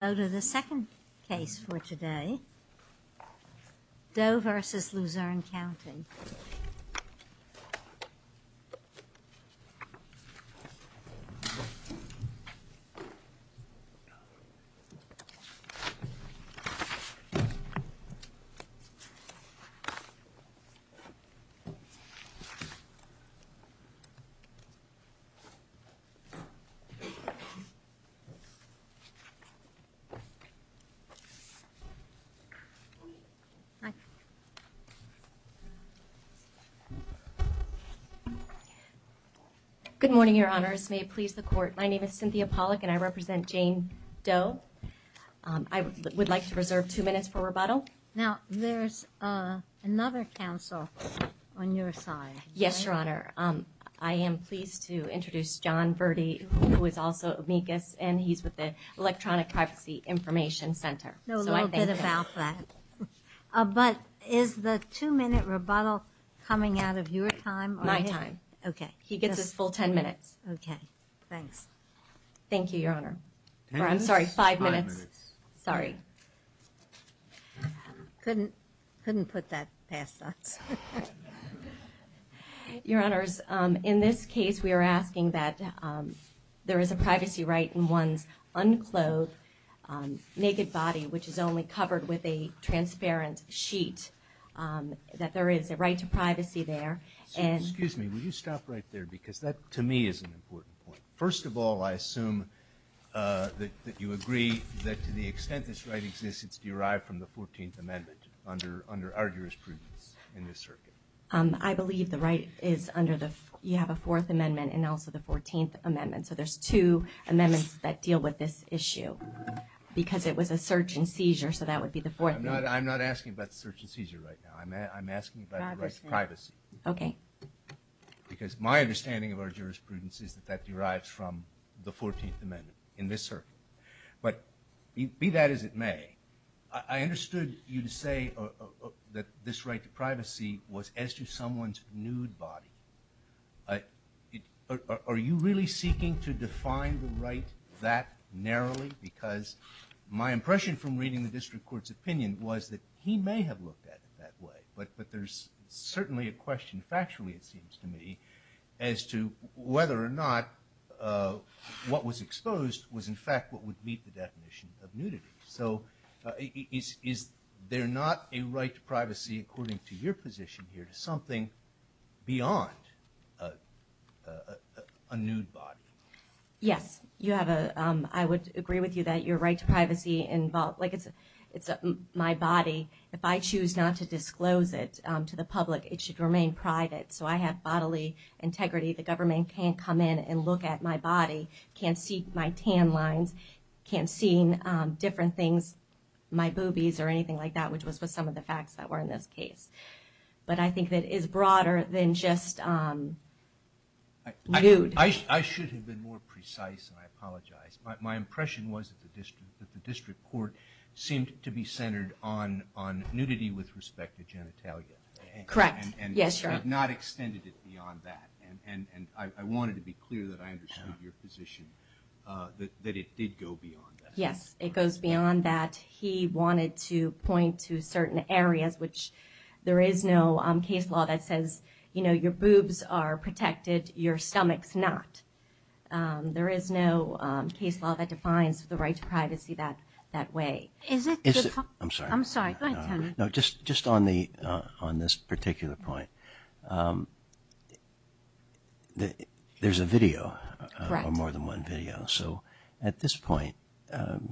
The second case for today, Doe v. Luzerne County. Good morning, Your Honors. May it please the Court, my name is Cynthia Pollack and I represent Jane Doe. I would like to reserve two minutes for rebuttal. Now there's another counsel on your side. Yes, Your Honor. I am pleased to introduce John Verde, who is also amicus and he's with the Electronic Privacy Information Center. I know a little bit about that. But is the two minute rebuttal coming out of your time? My time. Okay. He gets his full ten minutes. Okay. Thanks. Thank you, Your Honor. I'm sorry. Five minutes. Sorry. Couldn't put that past us. Your Honors, in this case, we are asking that there is a privacy right in one's unclothed, naked body, which is only covered with a transparent sheet, that there is a right to privacy there. Excuse me. Will you stop right there? Because that, to me, is an important point. First of all, I assume that you agree that to the extent this right exists, it's derived from the Fourteenth Amendment under our jurisprudence in this circuit. I believe the right is under the – you have a Fourth Amendment and also the Fourteenth Amendment. So there's two amendments that deal with this issue, because it was a search and seizure, so that would be the Fourth Amendment. I'm not asking about the search and seizure right now. I'm asking about the right to privacy. Okay. Because my understanding of our jurisprudence is that that derives from the Fourteenth Amendment in this circuit. But be that as it may, I understood you to say that this right to privacy was as to someone's nude body. Are you really seeking to define the right that narrowly? Because my impression from reading the district court's opinion was that he may have looked at it that way, but there's certainly a question, factually it seems to me, as to whether or not what was exposed was in fact what would meet the definition of nudity. So is there not a right to privacy, according to your position here, to something beyond a nude body? Yes. You have a – I would agree with you that your right to privacy – like, it's my body. If I choose not to disclose it to the public, it should remain private. So I have bodily integrity. The government can't come in and look at my body, can't see my tan lines, can't see different things, my boobies or anything like that, which was some of the facts that were in this case. But I think that it is broader than just nude. I should have been more precise, and I apologize. My impression was that the district court seemed to be centered on nudity with respect to genitalia. Correct. Yes. Yes, sure. And had not extended it beyond that. And I wanted to be clear that I understood your position, that it did go beyond that. Yes. It goes beyond that. He wanted to point to certain areas, which there is no case law that says, you know, your boobs are protected, your stomach's not. There is no case law that defines the right to privacy that way. Is it – I'm sorry. I'm sorry. Go ahead, Tony. No, just on the – on this particular point, there's a video, or more than one video. So at this point,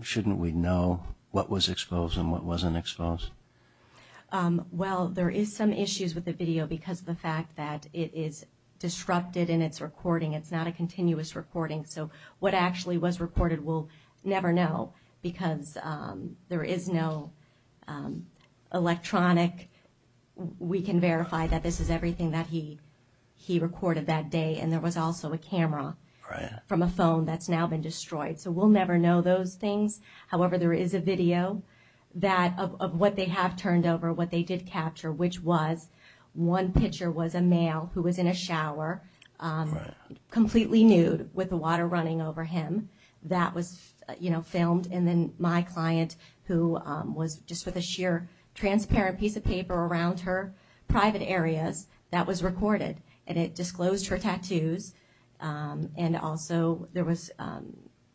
shouldn't we know what was exposed and what wasn't exposed? Well, there is some issues with the video because of the fact that it is disrupted in its recording. It's not a continuous recording. So what actually was recorded, we'll never know because there is no electronic – we can verify that this is everything that he recorded that day, and there was also a camera from a phone that's now been destroyed. So we'll never know those things. However, there is a video that – of what they have turned over, what they did capture, which was one picture was a male who was in a shower, completely nude, with the water running over him. That was, you know, filmed, and then my client, who was just with a sheer transparent piece of paper around her private areas, that was recorded, and it disclosed her tattoos. And also there was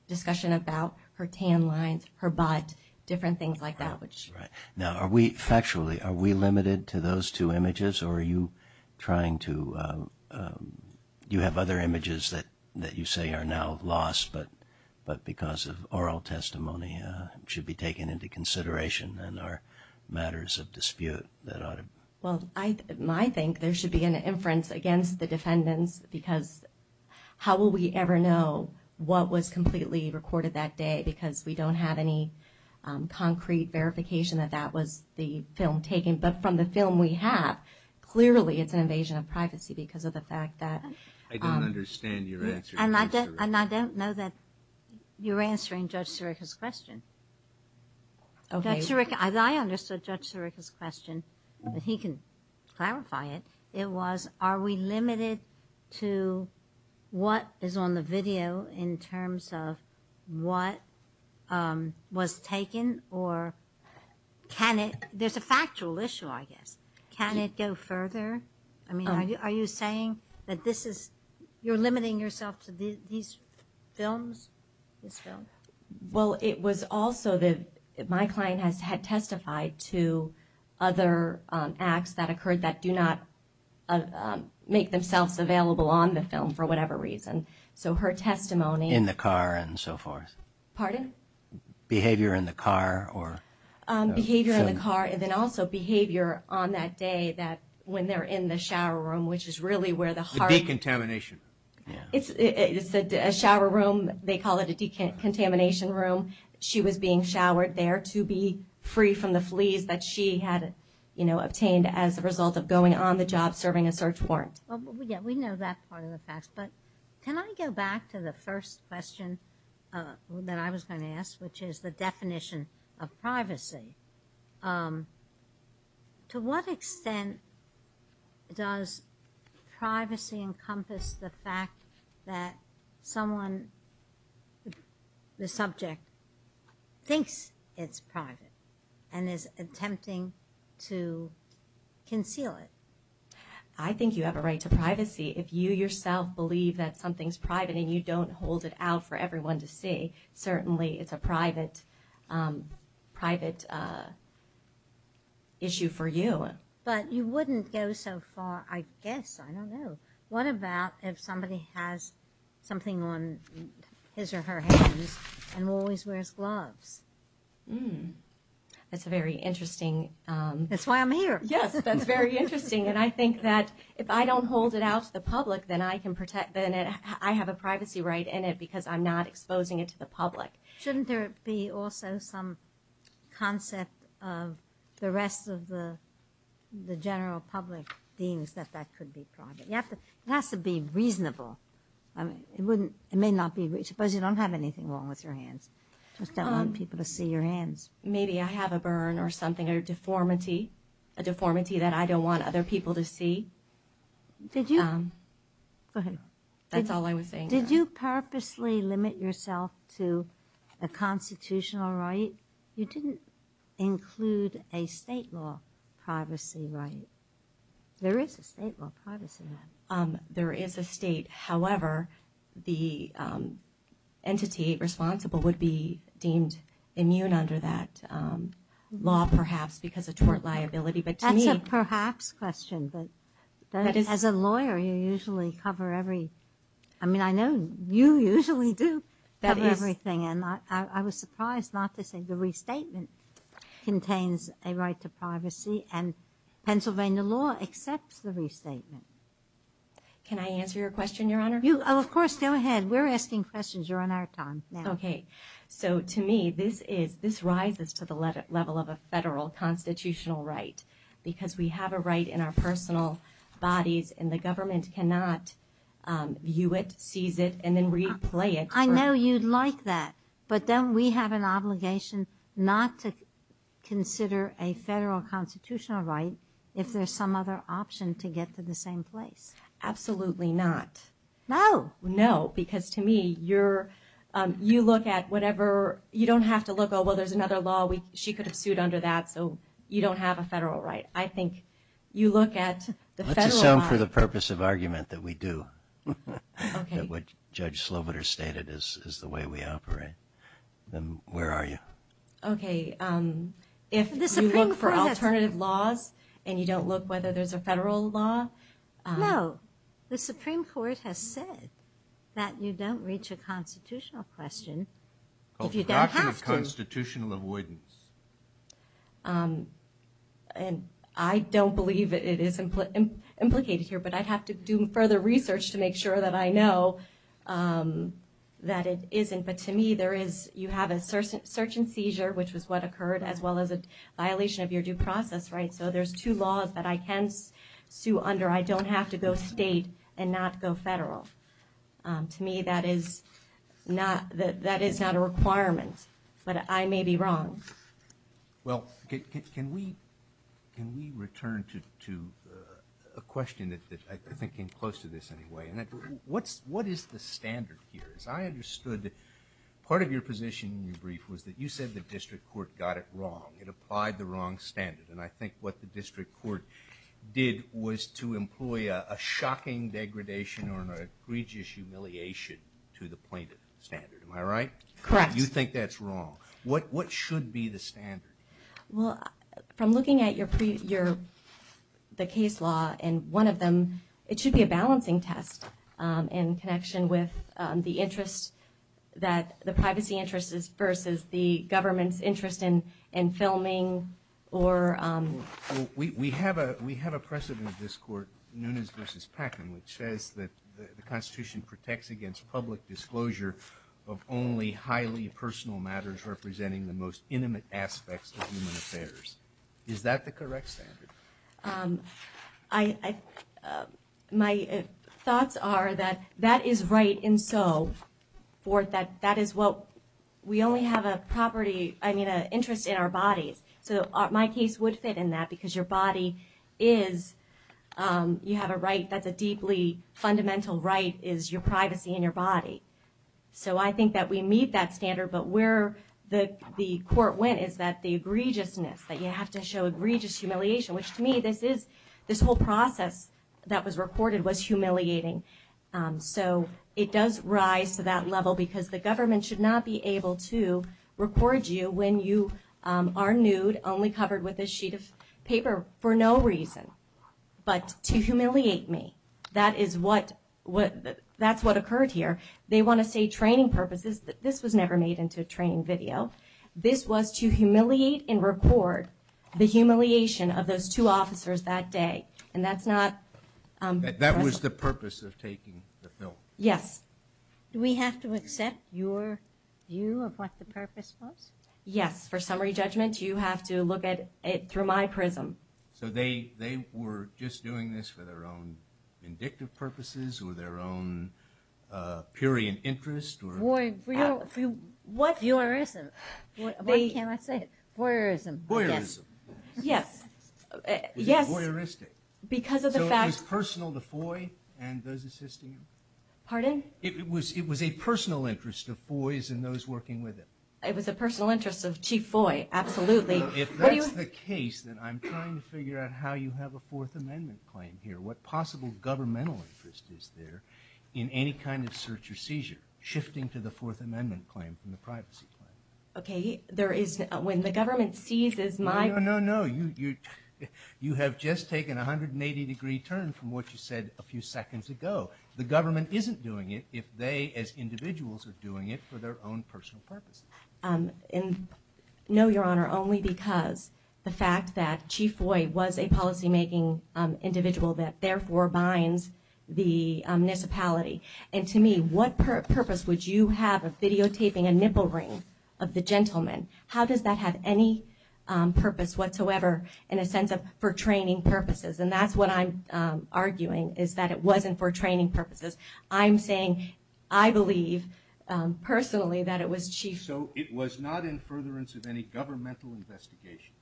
discussion about her tan lines, her butt, different things like that, which – All right. Now, are we – factually, are we limited to those two images, or are you trying to – do you have other images that you say are now lost, but because of oral testimony should be taken into consideration and are matters of dispute that ought to – Well, I think there should be an inference against the defendants because how will we ever know what was completely recorded that day because we don't have any concrete verification that that was the film taken. But from the film we have, clearly it's an invasion of privacy because of the fact that – I don't understand your answer. And I don't – and I don't know that you're answering Judge Sirica's question. Judge Sirica – I understood Judge Sirica's question, but he can clarify it. It was, are we limited to what is on the video in terms of what was taken, or can it – there's a factual issue, I guess. Can it go further? I mean, are you saying that this is – you're limiting yourself to these films, this film? Well, it was also that my client has had testified to other acts that occurred that do not make themselves available on the film for whatever reason. So her testimony – In the car and so forth. Pardon? Behavior in the car or – Behavior in the car, and then also behavior on that day that when they're in the shower room, which is really where the heart – The decontamination. Yeah. It's a shower room. They call it a decontamination room. She was being showered there to be free from the fleas that she had obtained as a result of going on the job serving a search warrant. Well, yeah, we know that part of the facts, but can I go back to the first question that I was going to ask, which is the definition of privacy? To what extent does privacy encompass the fact that someone, the subject, thinks it's private and is attempting to conceal it? I think you have a right to privacy. If you yourself believe that something's private and you don't hold it out for everyone to see, certainly it's a private issue for you. But you wouldn't go so far – I guess, I don't know. What about if somebody has something on his or her hands and always wears gloves? That's a very interesting – That's why I'm here. Yes, that's very interesting, and I think that if I don't hold it out to the public, then I can protect – then I have a privacy right in it because I'm not exposing it to the public. Shouldn't there be also some concept of the rest of the general public deems that that could be private? It has to be reasonable. I mean, it wouldn't – it may not be – suppose you don't have anything wrong with your hands. You just don't want people to see your hands. Maybe I have a burn or something, a deformity, a deformity that I don't want other people to see. Did you? Go ahead. That's all I was saying. Did you purposely limit yourself to a constitutional right? You didn't include a state law privacy right. There is a state law privacy right. There is a state. However, the entity responsible would be deemed immune under that law, perhaps, because of tort liability. But to me – That's a perhaps question. But as a lawyer, you usually cover every – I mean, I know you usually do cover everything. And I was surprised not to say the restatement contains a right to privacy. And Pennsylvania law accepts the restatement. Can I answer your question, Your Honor? Of course. Go ahead. We're asking questions. You're on our time now. Okay. So to me, this is – this rises to the level of a federal constitutional right because we have a right in our personal bodies, and the government cannot view it, seize it, and then replay it. I know you'd like that. But don't we have an obligation not to consider a federal constitutional right if there's some other option to get to the same place? Absolutely not. No. No. Because to me, you're – you look at whatever – you don't have to look, oh, well, there's another law. She could have sued under that. So you don't have a federal right. I think you look at the federal right. Let's assume for the purpose of argument that we do. Okay. That what Judge Slobiter stated is the way we operate. Then where are you? Okay. If you look for alternative laws and you don't look whether there's a federal law – No. have to. I don't believe it is implicated here, but I'd have to do further research to make sure that I know that it isn't. But to me, there is – you have a search and seizure, which was what occurred, as well as a violation of your due process, right? So there's two laws that I can sue under. I don't have to go state and not go federal. To me, that is not a requirement, but I may be wrong. Well, can we return to a question that I think came close to this anyway? What is the standard here? As I understood, part of your position in your brief was that you said the district court got it wrong. It applied the wrong standard. I think what the district court did was to employ a shocking degradation or an egregious humiliation to the plaintiff standard. Am I right? Correct. You think that's wrong. What should be the standard? From looking at the case law and one of them, it should be a balancing test in connection with the interest that – the privacy interests versus the government's interest in filming or – We have a precedent in this court, Nunes versus Packin, which says that the Constitution protects against public disclosure of only highly personal matters representing the most intimate aspects of human affairs. Is that the correct standard? I – my thoughts are that that is right and so forth, that that is what – we only have a property – I mean, an interest in our bodies. So my case would fit in that because your body is – you have a right that's a deeply fundamental right is your privacy and your body. So I think that we meet that standard, but where the court went is that the egregiousness, that you have to show egregious humiliation, which to me, this is – this whole process that was recorded was humiliating. So it does rise to that level because the government should not be able to record you when you are nude, only covered with a sheet of paper for no reason. But to humiliate me, that is what – that's what occurred here. They want to say training purposes. This was never made into a training video. This was to humiliate and record the humiliation of those two officers that day. And that's not – That was the purpose of taking the film. Yes. Do we have to accept your view of what the purpose was? Yes. For summary judgment, you have to look at it through my prism. So they were just doing this for their own vindictive purposes or their own purian interest or – Boy, for your – for your – Why can't I say it? Voyeurism. Voyeurism. Yes. Yes. Was it voyeuristic? Because of the fact – So it was personal to Foy and those assisting him? Pardon? It was a personal interest of Foy's and those working with him. It was a personal interest of Chief Foy, absolutely. If that's the case, then I'm trying to figure out how you have a Fourth Amendment claim here, what possible governmental interest is there in any kind of search or seizure shifting to the Fourth Amendment claim from the privacy claim? Okay. There is – When the government sees as my – No, no, no. You have just taken a 180-degree turn from what you said a few seconds ago. The government isn't doing it if they as individuals are doing it for their own personal purposes. No, Your Honor, only because the fact that Chief Foy was a policymaking individual that therefore binds the municipality. And to me, what purpose would you have of videotaping a nipple ring of the gentleman? How does that have any purpose whatsoever in a sense of for training purposes? And that's what I'm arguing, is that it wasn't for training purposes. I'm saying I believe personally that it was Chief – So it was not in furtherance of any governmental investigation?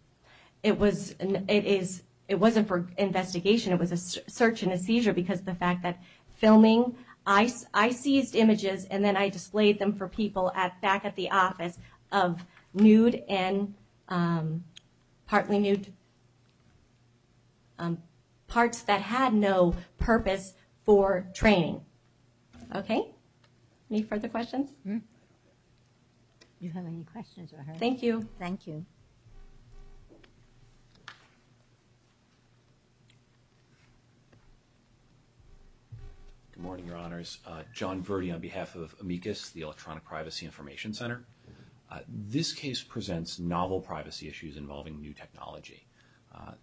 It was – It is – It wasn't for investigation. It was a search and a seizure because of the fact that filming – I seized images and then I displayed them for people back at the office of nude and partly nude parts that had no purpose for training. Okay? Any further questions? You have any questions, Your Honor? Thank you. Thank you. Good morning, Your Honors. John Verdi on behalf of Amicus, the Electronic Privacy Information Center. This case presents novel privacy issues involving new technology.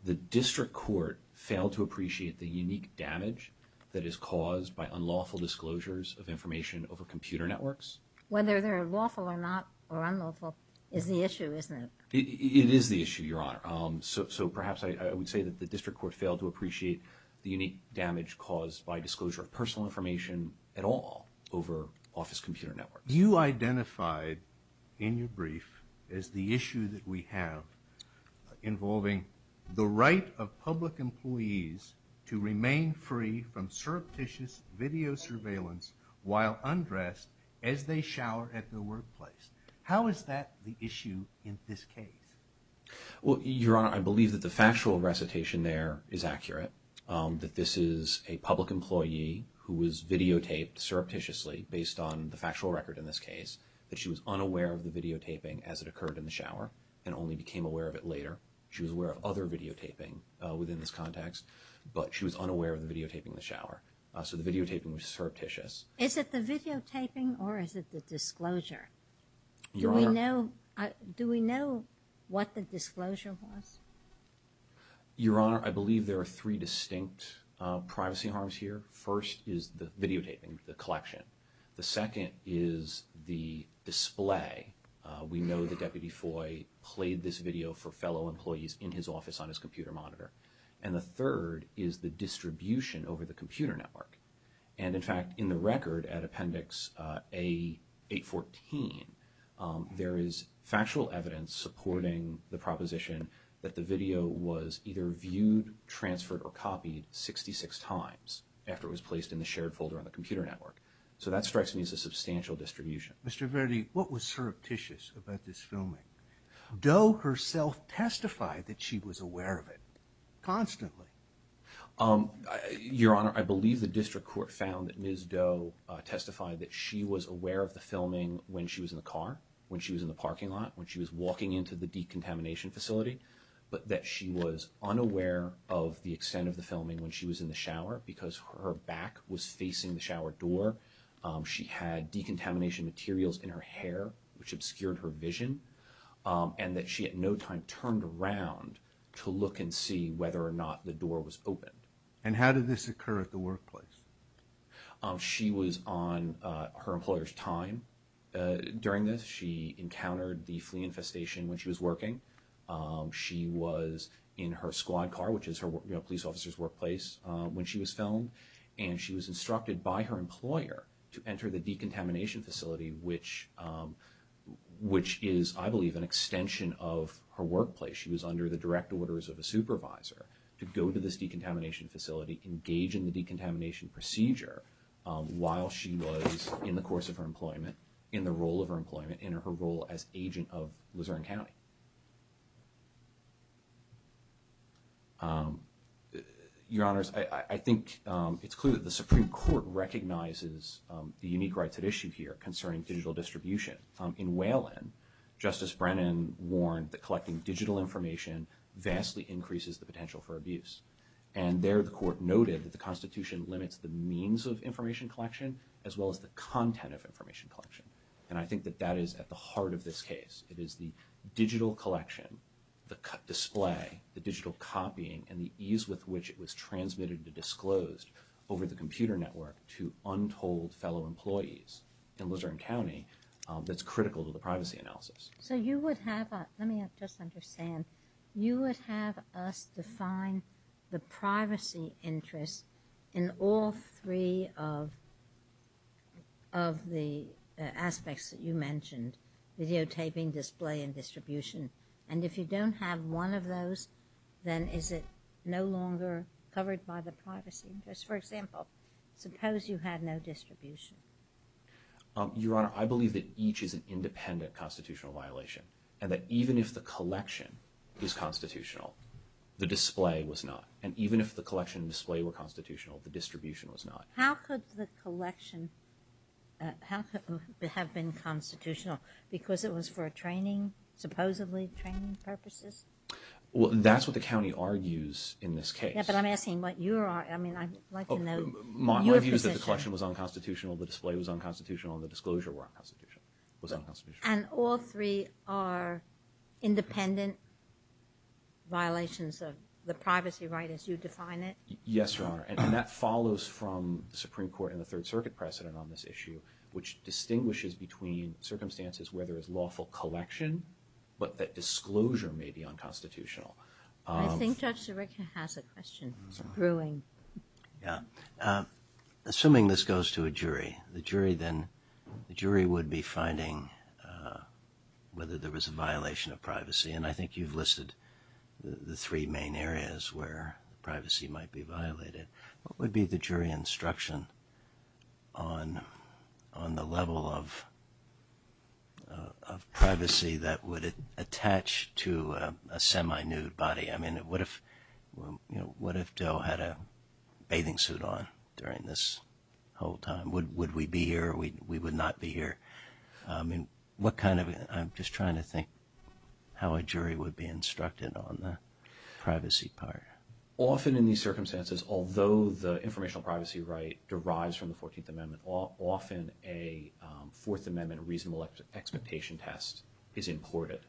The district court failed to appreciate the unique damage that is caused by unlawful disclosures of information over computer networks. Whether they're lawful or not, or unlawful, is the issue, isn't it? It is the issue, Your Honor. So perhaps I would say that the district court failed to appreciate the unique damage caused by disclosure of personal information at all over office computer networks. You identified in your brief as the issue that we have involving the right of public employees to remain free from surreptitious video surveillance while undressed as they shower at the workplace. How is that the issue in this case? Well, Your Honor, I believe that the factual recitation there is accurate, that this is a public employee who was videotaped surreptitiously based on the factual record in this case, that she was unaware of the videotaping as it occurred in the shower and only became aware of it later. She was aware of other videotaping within this context, but she was unaware of the videotaping in the shower. So the videotaping was surreptitious. Your Honor? Do we know what the disclosure was? Your Honor, I believe there are three distinct privacy harms here. First is the videotaping, the collection. The second is the display. We know that Deputy Foy played this video for fellow employees in his office on his computer monitor. And the third is the distribution over the computer network. And in fact, in the record at Appendix A-814, there is factual evidence supporting the proposition that the video was either viewed, transferred, or copied 66 times after it was placed in the shared folder on the computer network. So that strikes me as a substantial distribution. Mr. Verdi, what was surreptitious about this filming? Doe herself testified that she was aware of it constantly. Your Honor, I believe the District Court found that Ms. Doe testified that she was aware of the filming when she was in the car, when she was in the parking lot, when she was walking into the decontamination facility, but that she was unaware of the extent of the filming when she was in the shower because her back was facing the shower door. She had decontamination materials in her hair, which obscured her vision, and that she at no time turned around to look and see whether or not the door was opened. And how did this occur at the workplace? She was on her employer's time during this. She encountered the flea infestation when she was working. She was in her squad car, which is her police officer's workplace, when she was filmed. And she was instructed by her employer to enter the decontamination facility, which is, I believe, an extension of her workplace. She was under the direct orders of a supervisor to go to this decontamination facility, engage in the decontamination procedure while she was in the course of her employment, in the role of her employment, in her role as agent of Luzerne County. Your Honors, I think it's clear that the Supreme Court recognizes the unique rights at issue here concerning digital distribution. In Whalen, Justice Brennan warned that collecting digital information vastly increases the potential for abuse. And there, the Court noted that the Constitution limits the means of information collection as well as the content of information collection. And I think that that is at the heart of this case. It is the digital collection, the display, the digital copying, and the ease with which it was transmitted and disclosed over the computer network to untold fellow employees in Luzerne County that's critical to the privacy analysis. So you would have, let me just understand, you would have us define the privacy interest in all three of the aspects that you mentioned, videotaping, display, and distribution. And if you don't have one of those, then is it no longer covered by the privacy interest? For example, suppose you had no distribution. Your Honor, I believe that each is an independent constitutional violation. And that even if the collection is constitutional, the display was not. And even if the collection and display were constitutional, the distribution was not. How could the collection have been constitutional? Because it was for training, supposedly training purposes? Well, that's what the county argues in this case. Yeah, but I'm asking what your, I mean, I'd like to know your position. My view is that the collection was unconstitutional, the display was unconstitutional, and the disclosure was unconstitutional. And all three are independent violations of the privacy right as you define it? Yes, Your Honor. And that follows from the Supreme Court and the Third Circuit precedent on this issue, which distinguishes between circumstances where there is lawful collection, but that disclosure may be unconstitutional. I think Judge Sirica has a question. Yeah. Assuming this goes to a jury, the jury then, the jury would be finding whether there was a violation of privacy. And I think you've listed the three main areas where privacy might be violated. What would be the jury instruction on the level of privacy that would attach to a semi-nude body? I mean, what if, you know, what if Doe had a bathing suit on during this whole time? Would we be here or we would not be here? I mean, what kind of, I'm just trying to think how a jury would be instructed on the privacy part. Often in these circumstances, although the informational privacy right derives from the 14th Amendment, often a Fourth Amendment reasonable expectation test is imported.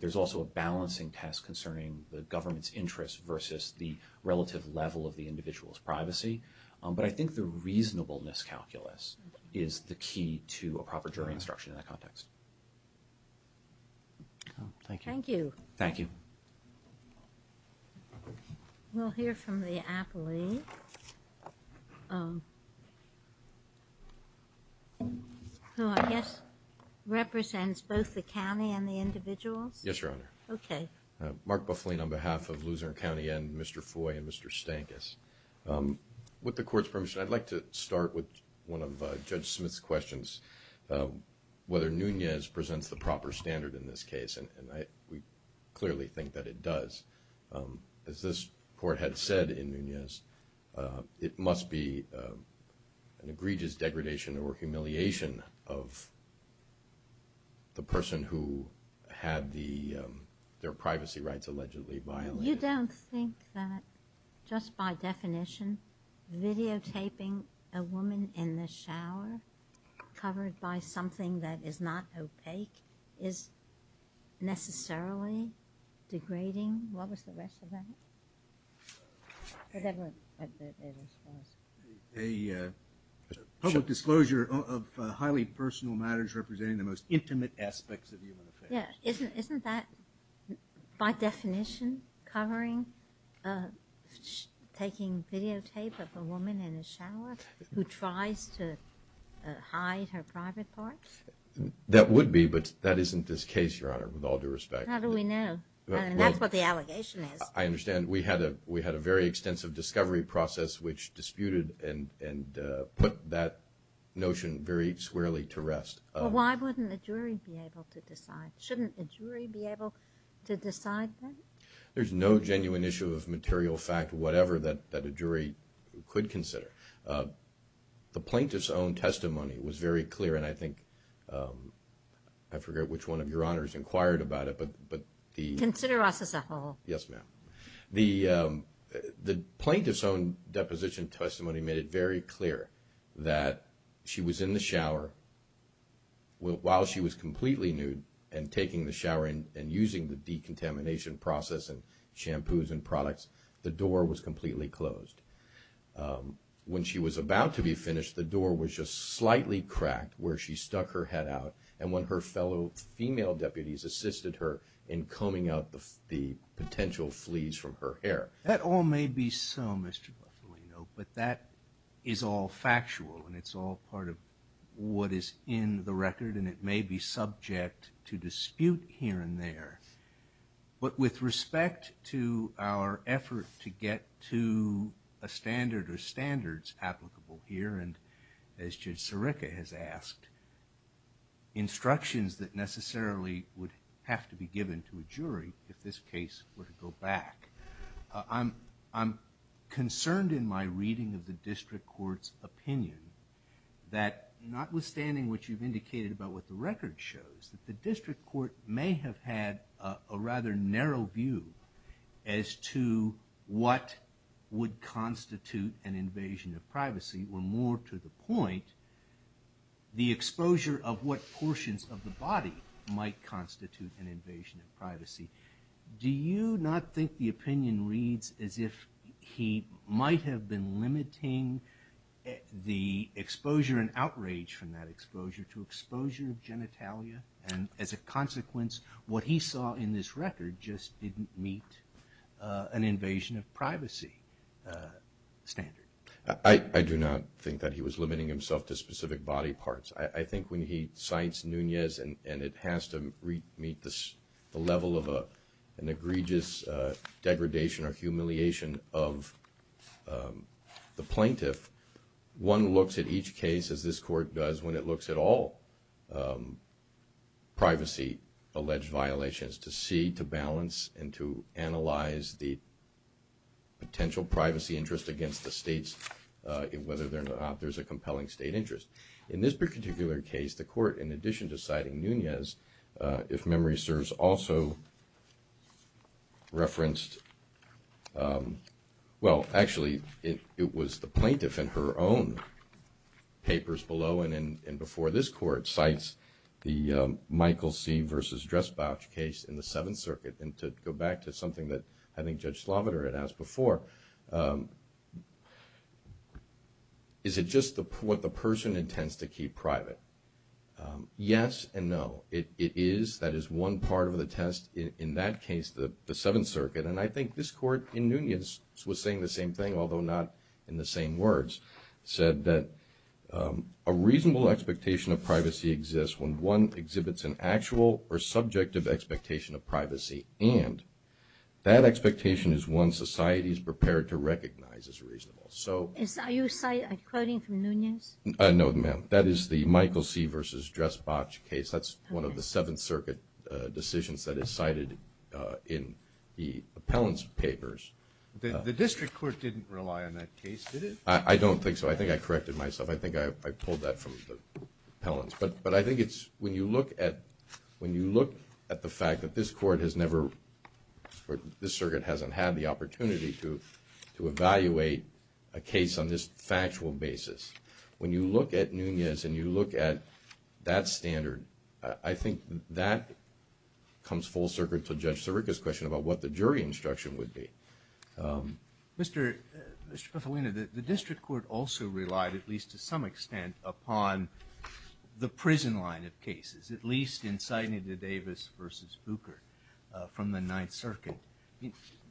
There's also a balancing test concerning the government's interest versus the relative level of the individual's privacy. But I think the reasonableness calculus is the key to a proper jury instruction in that context. Thank you. Thank you. Thank you. We'll hear from the appellee, who I guess represents both the county and the individuals. Yes, Your Honor. Okay. Mark Buffling on behalf of Luzerne County and Mr. Foy and Mr. Stankus. With the Court's permission, I'd like to start with one of Judge Smith's questions, whether Nunez presents the proper standard in this case, and we clearly think that it does. As this Court had said in Nunez, it must be an egregious degradation or humiliation of the person who had their privacy rights allegedly violated. You don't think that just by definition videotaping a woman in the shower covered by something that is not opaque is necessarily degrading? What was the rest of that? Whatever it was. A public disclosure of highly personal matters representing the most intimate aspects of human affairs. Yeah. Isn't that by definition covering taking videotape of a woman in a shower who tries to hide her private parts? That would be, but that isn't this case, Your Honor, with all due respect. How do we know? I mean, that's what the allegation is. I understand. We had a very extensive discovery process which disputed and put that notion very squarely to rest. Well, why wouldn't a jury be able to decide? Shouldn't a jury be able to decide that? There's no genuine issue of material fact, whatever, that a jury could consider. The plaintiff's own testimony was very clear, and I think – I forget which one of Your Honors inquired about it, but the – Consider us as a whole. Yes, ma'am. The plaintiff's own deposition testimony made it very clear that she was in the shower while she was completely nude and taking the shower and using the decontamination process and shampoos and products. The door was completely closed. When she was about to be finished, the door was just slightly cracked where she stuck her head out, and one of her fellow female deputies assisted her in combing out the potential fleas from her hair. That all may be so, Mr. Bufalino, but that is all factual, and it's all part of what is in the record, and it may be subject to dispute here and there. But with respect to our effort to get to a standard or standards applicable here, and as Judge Sirica has asked, instructions that necessarily would have to be given to a jury if this case were to go back, I'm concerned in my reading of the district court's opinion that notwithstanding what you've indicated about what the record shows, that the district court may have had a rather narrow view as to what would constitute an invasion of privacy, or more to the point, the exposure of what portions of the body might constitute an invasion of privacy. Do you not think the opinion reads as if he might have been limiting the exposure and outrage from that exposure to exposure of genitalia, and as a consequence, what he saw in this record just didn't meet an invasion of privacy standard? I do not think that he was limiting himself to specific body parts. I think when he cites Nunez, and it has to meet the level of an egregious degradation or humiliation of the plaintiff, one looks at each case, as this court does, when it looks at all privacy-alleged violations, to see, to balance, and to analyze the potential privacy interest against the states, whether or not there's a compelling state interest. In this particular case, the court, in addition to citing Nunez, if memory serves, also referenced, well, actually, it was the plaintiff in her own papers below and before this court, cites the Michael C. versus Dressbauch case in the Seventh Circuit, and to go back to something that I think Judge Sloviter had asked before, is it just what the person intends to keep private? Yes and no. It is, that is one part of the test. In that case, the Seventh Circuit, and I think this court, in Nunez, was saying the same thing, although not in the same words, said that a reasonable expectation of privacy exists when one exhibits an actual or subjective expectation of privacy, and that expectation is one society is prepared to recognize as reasonable. Are you quoting from Nunez? No, ma'am. That is the Michael C. versus Dressbauch case. That's one of the Seventh Circuit decisions that is cited in the appellants' papers. The district court didn't rely on that case, did it? I don't think so. I think I corrected myself. I think I pulled that from the appellants. But I think it's when you look at the fact that this court has never, this circuit hasn't had the opportunity to evaluate a case on this factual basis. When you look at Nunez and you look at that standard, I think that comes full circuit to Judge Sirica's question about what the jury instruction would be. Mr. Petalina, the district court also relied, at least to some extent, upon the prison line of cases, at least in Sidney Davis versus Buchert from the Ninth Circuit.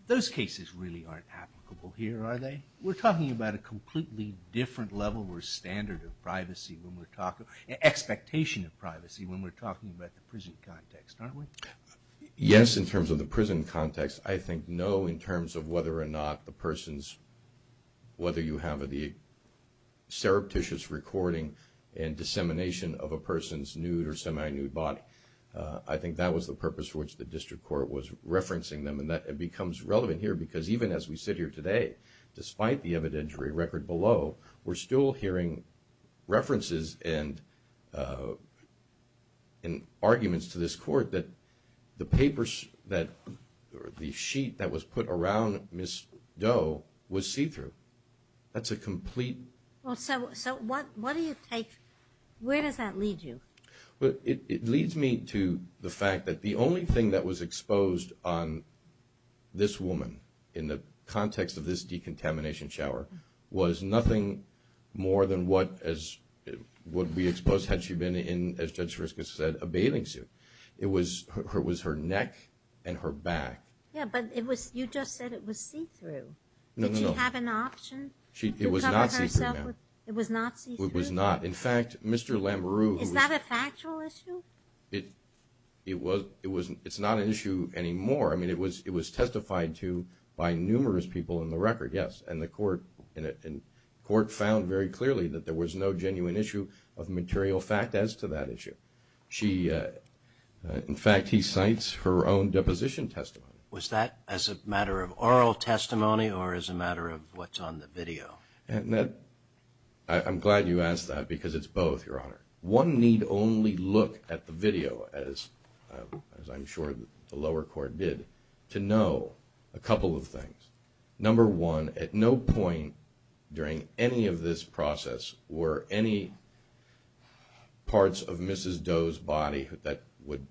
Those cases really aren't applicable here, are they? We're talking about a completely different level or standard of privacy when we're talking, expectation of privacy when we're talking about the prison context, aren't we? Yes, in terms of the prison context. I think no in terms of whether or not the person's, whether you have the surreptitious recording and dissemination of a person's nude or semi-nude body, I think that was the purpose for which the district court was referencing them. And that becomes relevant here because even as we sit here today, despite the evidentiary record below, we're still hearing references and arguments to this court that the papers that, the sheet that was put around Ms. Doe was see-through. That's a complete... Well, so what do you take, where does that lead you? Well, it leads me to the fact that the only thing that was exposed on this woman in the context of this decontamination shower was nothing more than what would be exposed had she been in, as Judge Sriska said, a bathing suit. It was her neck and her back. Yeah, but you just said it was see-through. No, no, no. It was not see-through? It was not. In fact, Mr. Lamoureux... Is that a factual issue? It's not an issue anymore. I mean, it was testified to by numerous people in the record, yes, and the court found very clearly that there was no genuine issue of material fact as to that issue. In fact, he cites her own deposition testimony. Was that as a matter of oral testimony or as a matter of what's on the video? I'm glad you asked that because it's both, Your Honor. One need only look at the video, as I'm sure the lower court did, to know a couple of things. Number one, at no point during any of this process were any parts of Mrs. Doe's body that would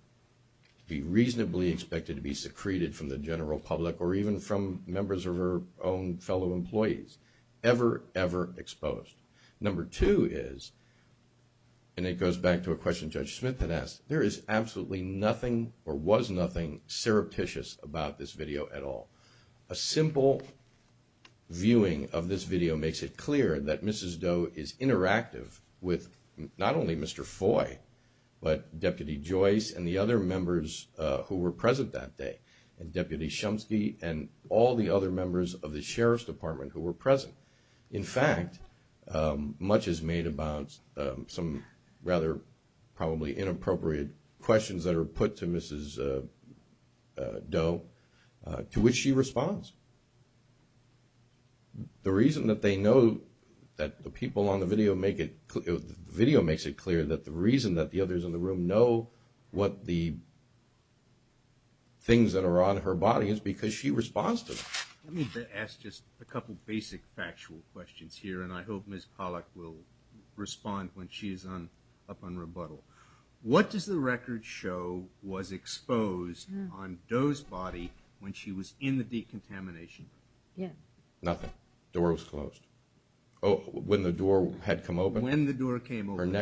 be reasonably expected to be secreted from the general public or even from members of her own fellow employees ever, ever exposed. Number two is, and it goes back to a question Judge Smith had asked, there is absolutely nothing or was nothing surreptitious about this video at all. A simple viewing of this video makes it clear that Mrs. Doe is interactive with not only Mr. Foy but Deputy Joyce and the other members who were present that day. And Deputy Shumsky and all the other members of the Sheriff's Department who were present. In fact, much is made about some rather probably inappropriate questions that are put to Mrs. Doe to which she responds. The reason that they know that the people on the video make it clear, the video makes it clear that the reason that the others in the room know what the things that are on her body is because she responds to them. Let me ask just a couple basic factual questions here, and I hope Ms. Pollack will respond when she is up on rebuttal. What does the record show was exposed on Doe's body when she was in the decontamination room? Nothing. The door was closed. When the door had come open? When the door came open.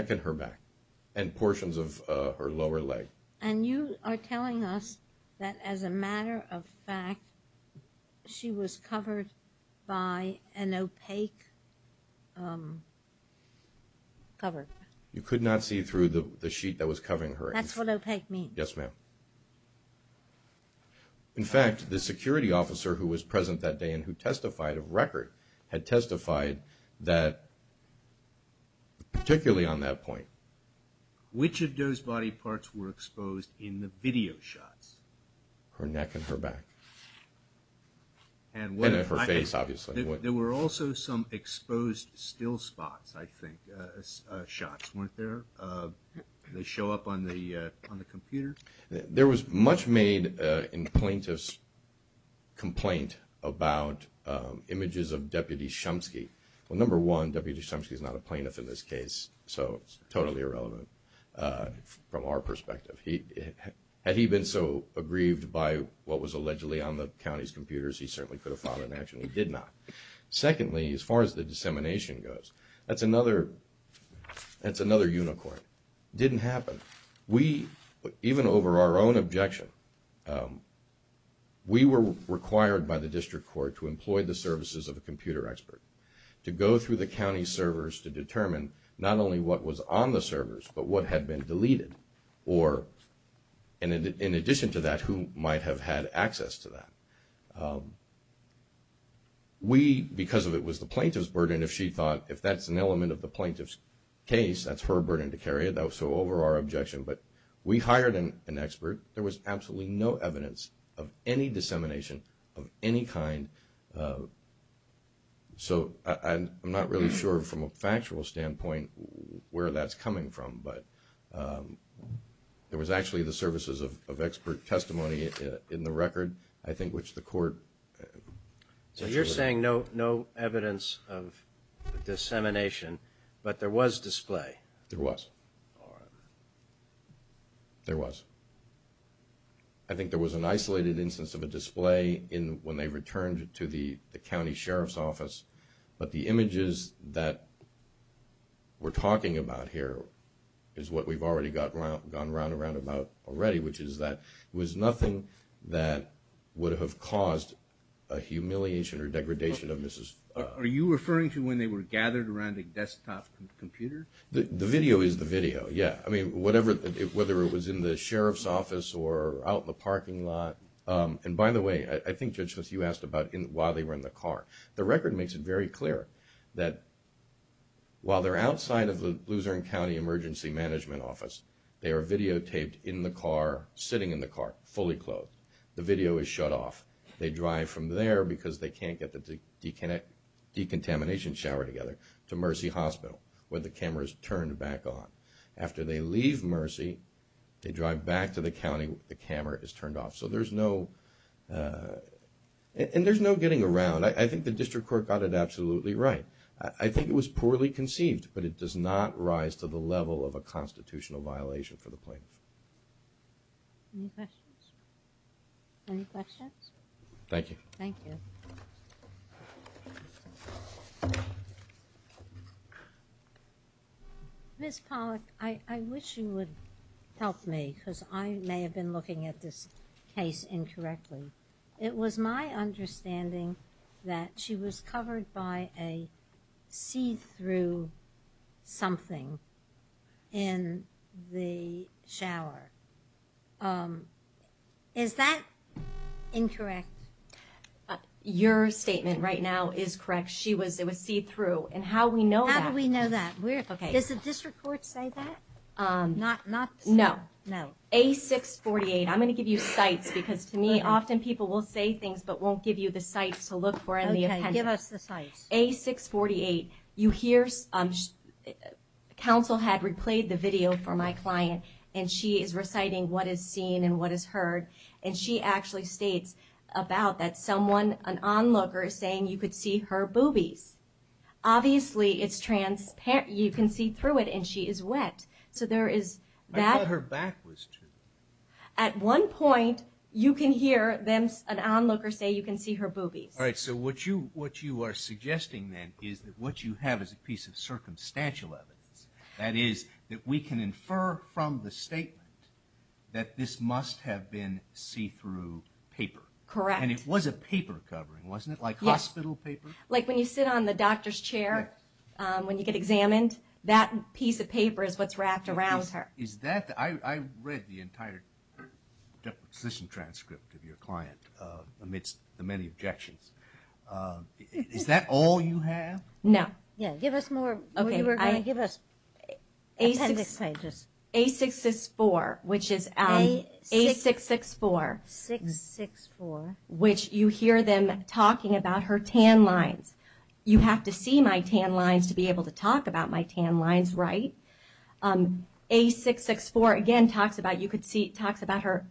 And portions of her lower leg. And you are telling us that as a matter of fact, she was covered by an opaque cover. You could not see through the sheet that was covering her. That's what opaque means. Yes, ma'am. In fact, the security officer who was present that day and who testified of record had testified that particularly on that point. Which of Doe's body parts were exposed in the video shots? Her neck and her back. And her face, obviously. There were also some exposed still spots, I think, shots, weren't there? They show up on the computer? There was much made in plaintiff's complaint about images of Deputy Shumsky. Well, number one, Deputy Shumsky is not a plaintiff in this case, so it's totally irrelevant from our perspective. Had he been so aggrieved by what was allegedly on the county's computers, he certainly could have filed an action. He did not. Secondly, as far as the dissemination goes, that's another unicorn. It didn't happen. Even over our own objection, we were required by the district court to employ the services of a computer expert to go through the county servers to determine not only what was on the servers but what had been deleted. In addition to that, who might have had access to that. We, because of it was the plaintiff's burden, if she thought if that's an element of the plaintiff's case, that's her burden to carry. That was so over our objection. But we hired an expert. There was absolutely no evidence of any dissemination of any kind. So I'm not really sure from a factual standpoint where that's coming from, but there was actually the services of expert testimony in the record, I think, which the court. So you're saying no evidence of dissemination, but there was display? There was. All right. There was. I think there was an isolated instance of a display when they returned to the county sheriff's office, but the images that we're talking about here is what we've already gone round and round about already, which is that it was nothing that would have caused a humiliation or degradation of Mrs. Fudd. Are you referring to when they were gathered around a desktop computer? The video is the video, yeah. I mean, whether it was in the sheriff's office or out in the parking lot. And by the way, I think, Judge Smith, you asked about while they were in the car. The record makes it very clear that while they're outside of the Luzerne County Emergency Management Office, they are videotaped in the car, sitting in the car, fully clothed. The video is shut off. They drive from there because they can't get the decontamination shower together to Mercy Hospital, where the camera is turned back on. After they leave Mercy, they drive back to the county. The camera is turned off. So there's no getting around. I think the district court got it absolutely right. I think it was poorly conceived, but it does not rise to the level of a constitutional violation for the plaintiff. Any questions? Any questions? Thank you. Thank you. Ms. Pollack, I wish you would help me, because I may have been looking at this case incorrectly. It was my understanding that she was covered by a see-through something in the shower. Is that incorrect? Your statement right now is correct. It was see-through, and how we know that. How do we know that? Does the district court say that? No. A648. I'm going to give you cites, because to me, often people will say things but won't give you the cites to look for in the appendix. Okay. Give us the cites. A648. You hear counsel had replayed the video for my client, and she is reciting what is seen and what is heard, and she actually states about that someone, an onlooker, is saying you could see her boobies. Obviously, you can see through it, and she is wet. I thought her back was true. At one point, you can hear an onlooker say you can see her boobies. All right. So what you are suggesting then is that what you have is a piece of circumstantial evidence, that is, that we can infer from the statement that this must have been see-through paper. Correct. And it was a paper covering, wasn't it? Yes. Like hospital paper? Like when you sit on the doctor's chair when you get examined, that piece of paper is what is wrapped around her. I read the entire deposition transcript of your client amidst the many objections. Is that all you have? No. Yes. Give us more. Okay. Give us appendix pages. A664, which is A664. A664. Which you hear them talking about her tan lines. You have to see my tan lines to be able to talk about my tan lines right. A664 again talks about her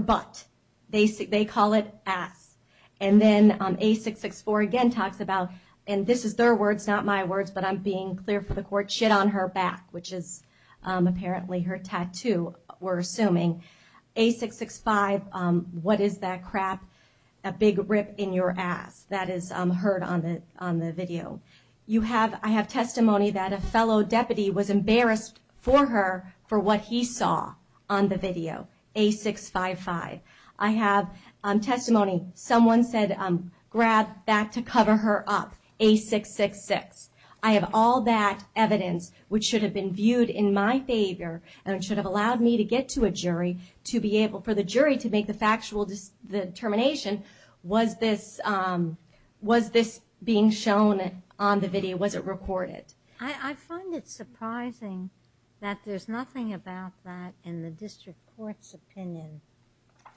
butt. They call it ass. And then A664 again talks about, and this is their words, not my words, but I'm being clear for the court, shit on her back, which is apparently her tattoo, we're assuming. A665, what is that crap? A big rip in your ass. That is heard on the video. I have testimony that a fellow deputy was embarrassed for her for what he saw on the video. A655. I have testimony someone said grab back to cover her up. A666. I have all that evidence which should have been viewed in my favor and should have allowed me to get to a jury to be able for the jury to make the factual determination was this being shown on the video, was it recorded? I find it surprising that there's nothing about that in the district court's opinion.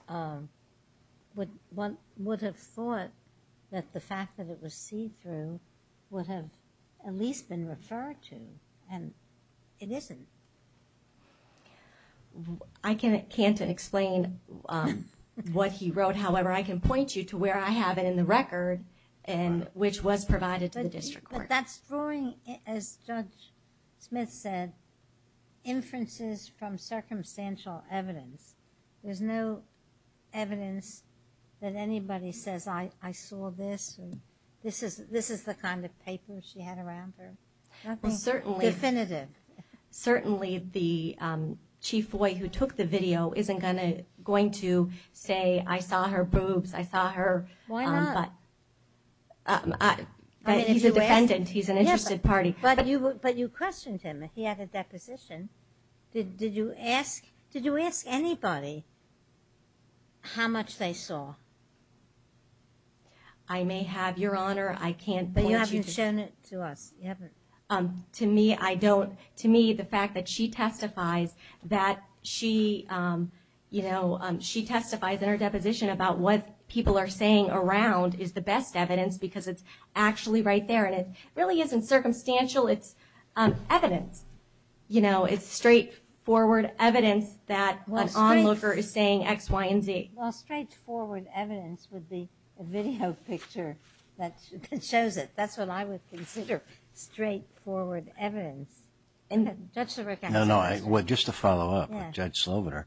One would have thought that the fact that it was see-through would have at least been referred to. And it isn't. I can't explain what he wrote. However, I can point you to where I have it in the record, which was provided to the district court. But that's drawing, as Judge Smith said, inferences from circumstantial evidence. There's no evidence that anybody says I saw this. This is the kind of paper she had around her. Definitive. Certainly the chief boy who took the video isn't going to say I saw her boobs, I saw her butt. Why not? He's a defendant. He's an interested party. But you questioned him. He had a deposition. Did you ask anybody how much they saw? I may have, Your Honor. But you haven't shown it to us. To me, the fact that she testifies in her deposition about what people are saying around is the best evidence because it's actually right there. And it really isn't circumstantial. It's evidence. It's straightforward evidence that an onlooker is saying X, Y, and Z. Well, straightforward evidence would be a video picture that shows it. That's what I would consider straightforward evidence. Judge Sloviter. No, no, just to follow up with Judge Sloviter.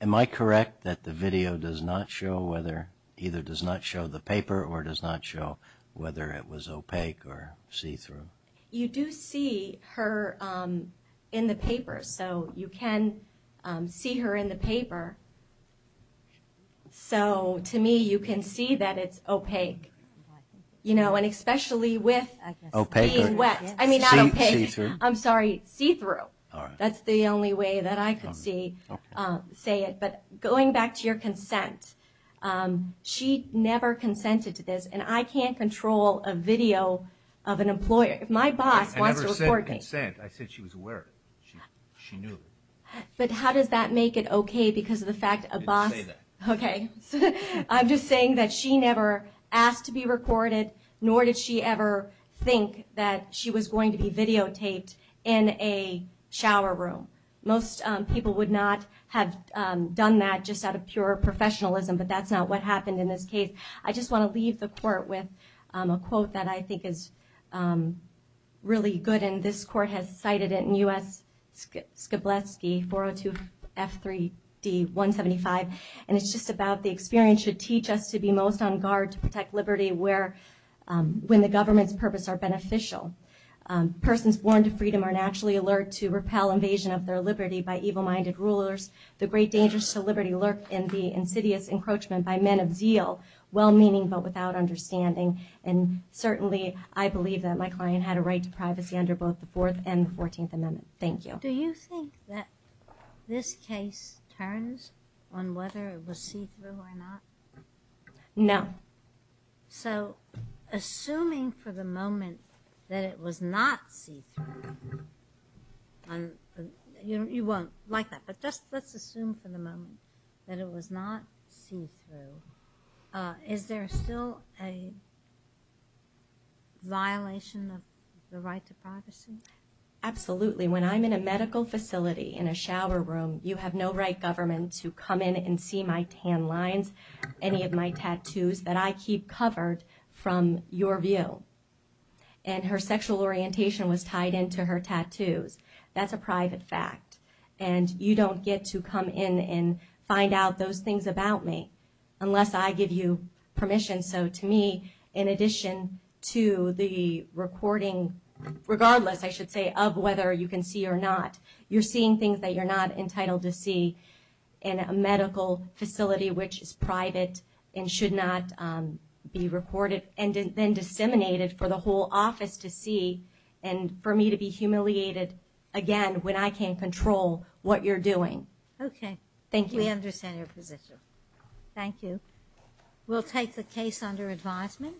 Am I correct that the video does not show whether, either does not show the paper or does not show whether it was opaque or see-through? You do see her in the paper. So you can see her in the paper. So to me, you can see that it's opaque, you know, and especially with being wet. I mean, not opaque. See-through. I'm sorry, see-through. That's the only way that I could say it. But going back to your consent, she never consented to this. And I can't control a video of an employer. If my boss wants to record me. I never said consent. I said she was aware of it. She knew. But how does that make it okay because of the fact a boss? I didn't say that. Okay. I'm just saying that she never asked to be recorded, nor did she ever think that she was going to be videotaped in a shower room. Most people would not have done that just out of pure professionalism, but that's not what happened in this case. I just want to leave the court with a quote that I think is really good, and this court has cited it in U.S. Skoblewski, 402 F3D 175, and it's just about the experience should teach us to be most on guard to protect liberty when the government's purpose are beneficial. Persons born to freedom are naturally alert to repel invasion of their liberty by evil-minded rulers. The great dangers to liberty lurk in the insidious encroachment by men of zeal, well-meaning but without understanding, and certainly I believe that my client had a right to privacy under both the Fourth and the Fourteenth Amendment. Thank you. Do you think that this case turns on whether it was see-through or not? No. So assuming for the moment that it was not see-through, and you won't like that, but just let's assume for the moment that it was not see-through, is there still a violation of the right to privacy? Absolutely. When I'm in a medical facility in a shower room, you have no right, government, to come in and see my tan lines, any of my tattoos that I keep covered from your view. And her sexual orientation was tied into her tattoos. That's a private fact, and you don't get to come in and find out those things about me unless I give you permission. So to me, in addition to the recording, regardless, I should say, of whether you can see or not, you're seeing things that you're not entitled to see in a medical facility which is private and should not be recorded, and then disseminated for the whole office to see, and for me to be humiliated again when I can't control what you're doing. Okay. Thank you. We understand your position. Thank you. We'll take the case under advisement.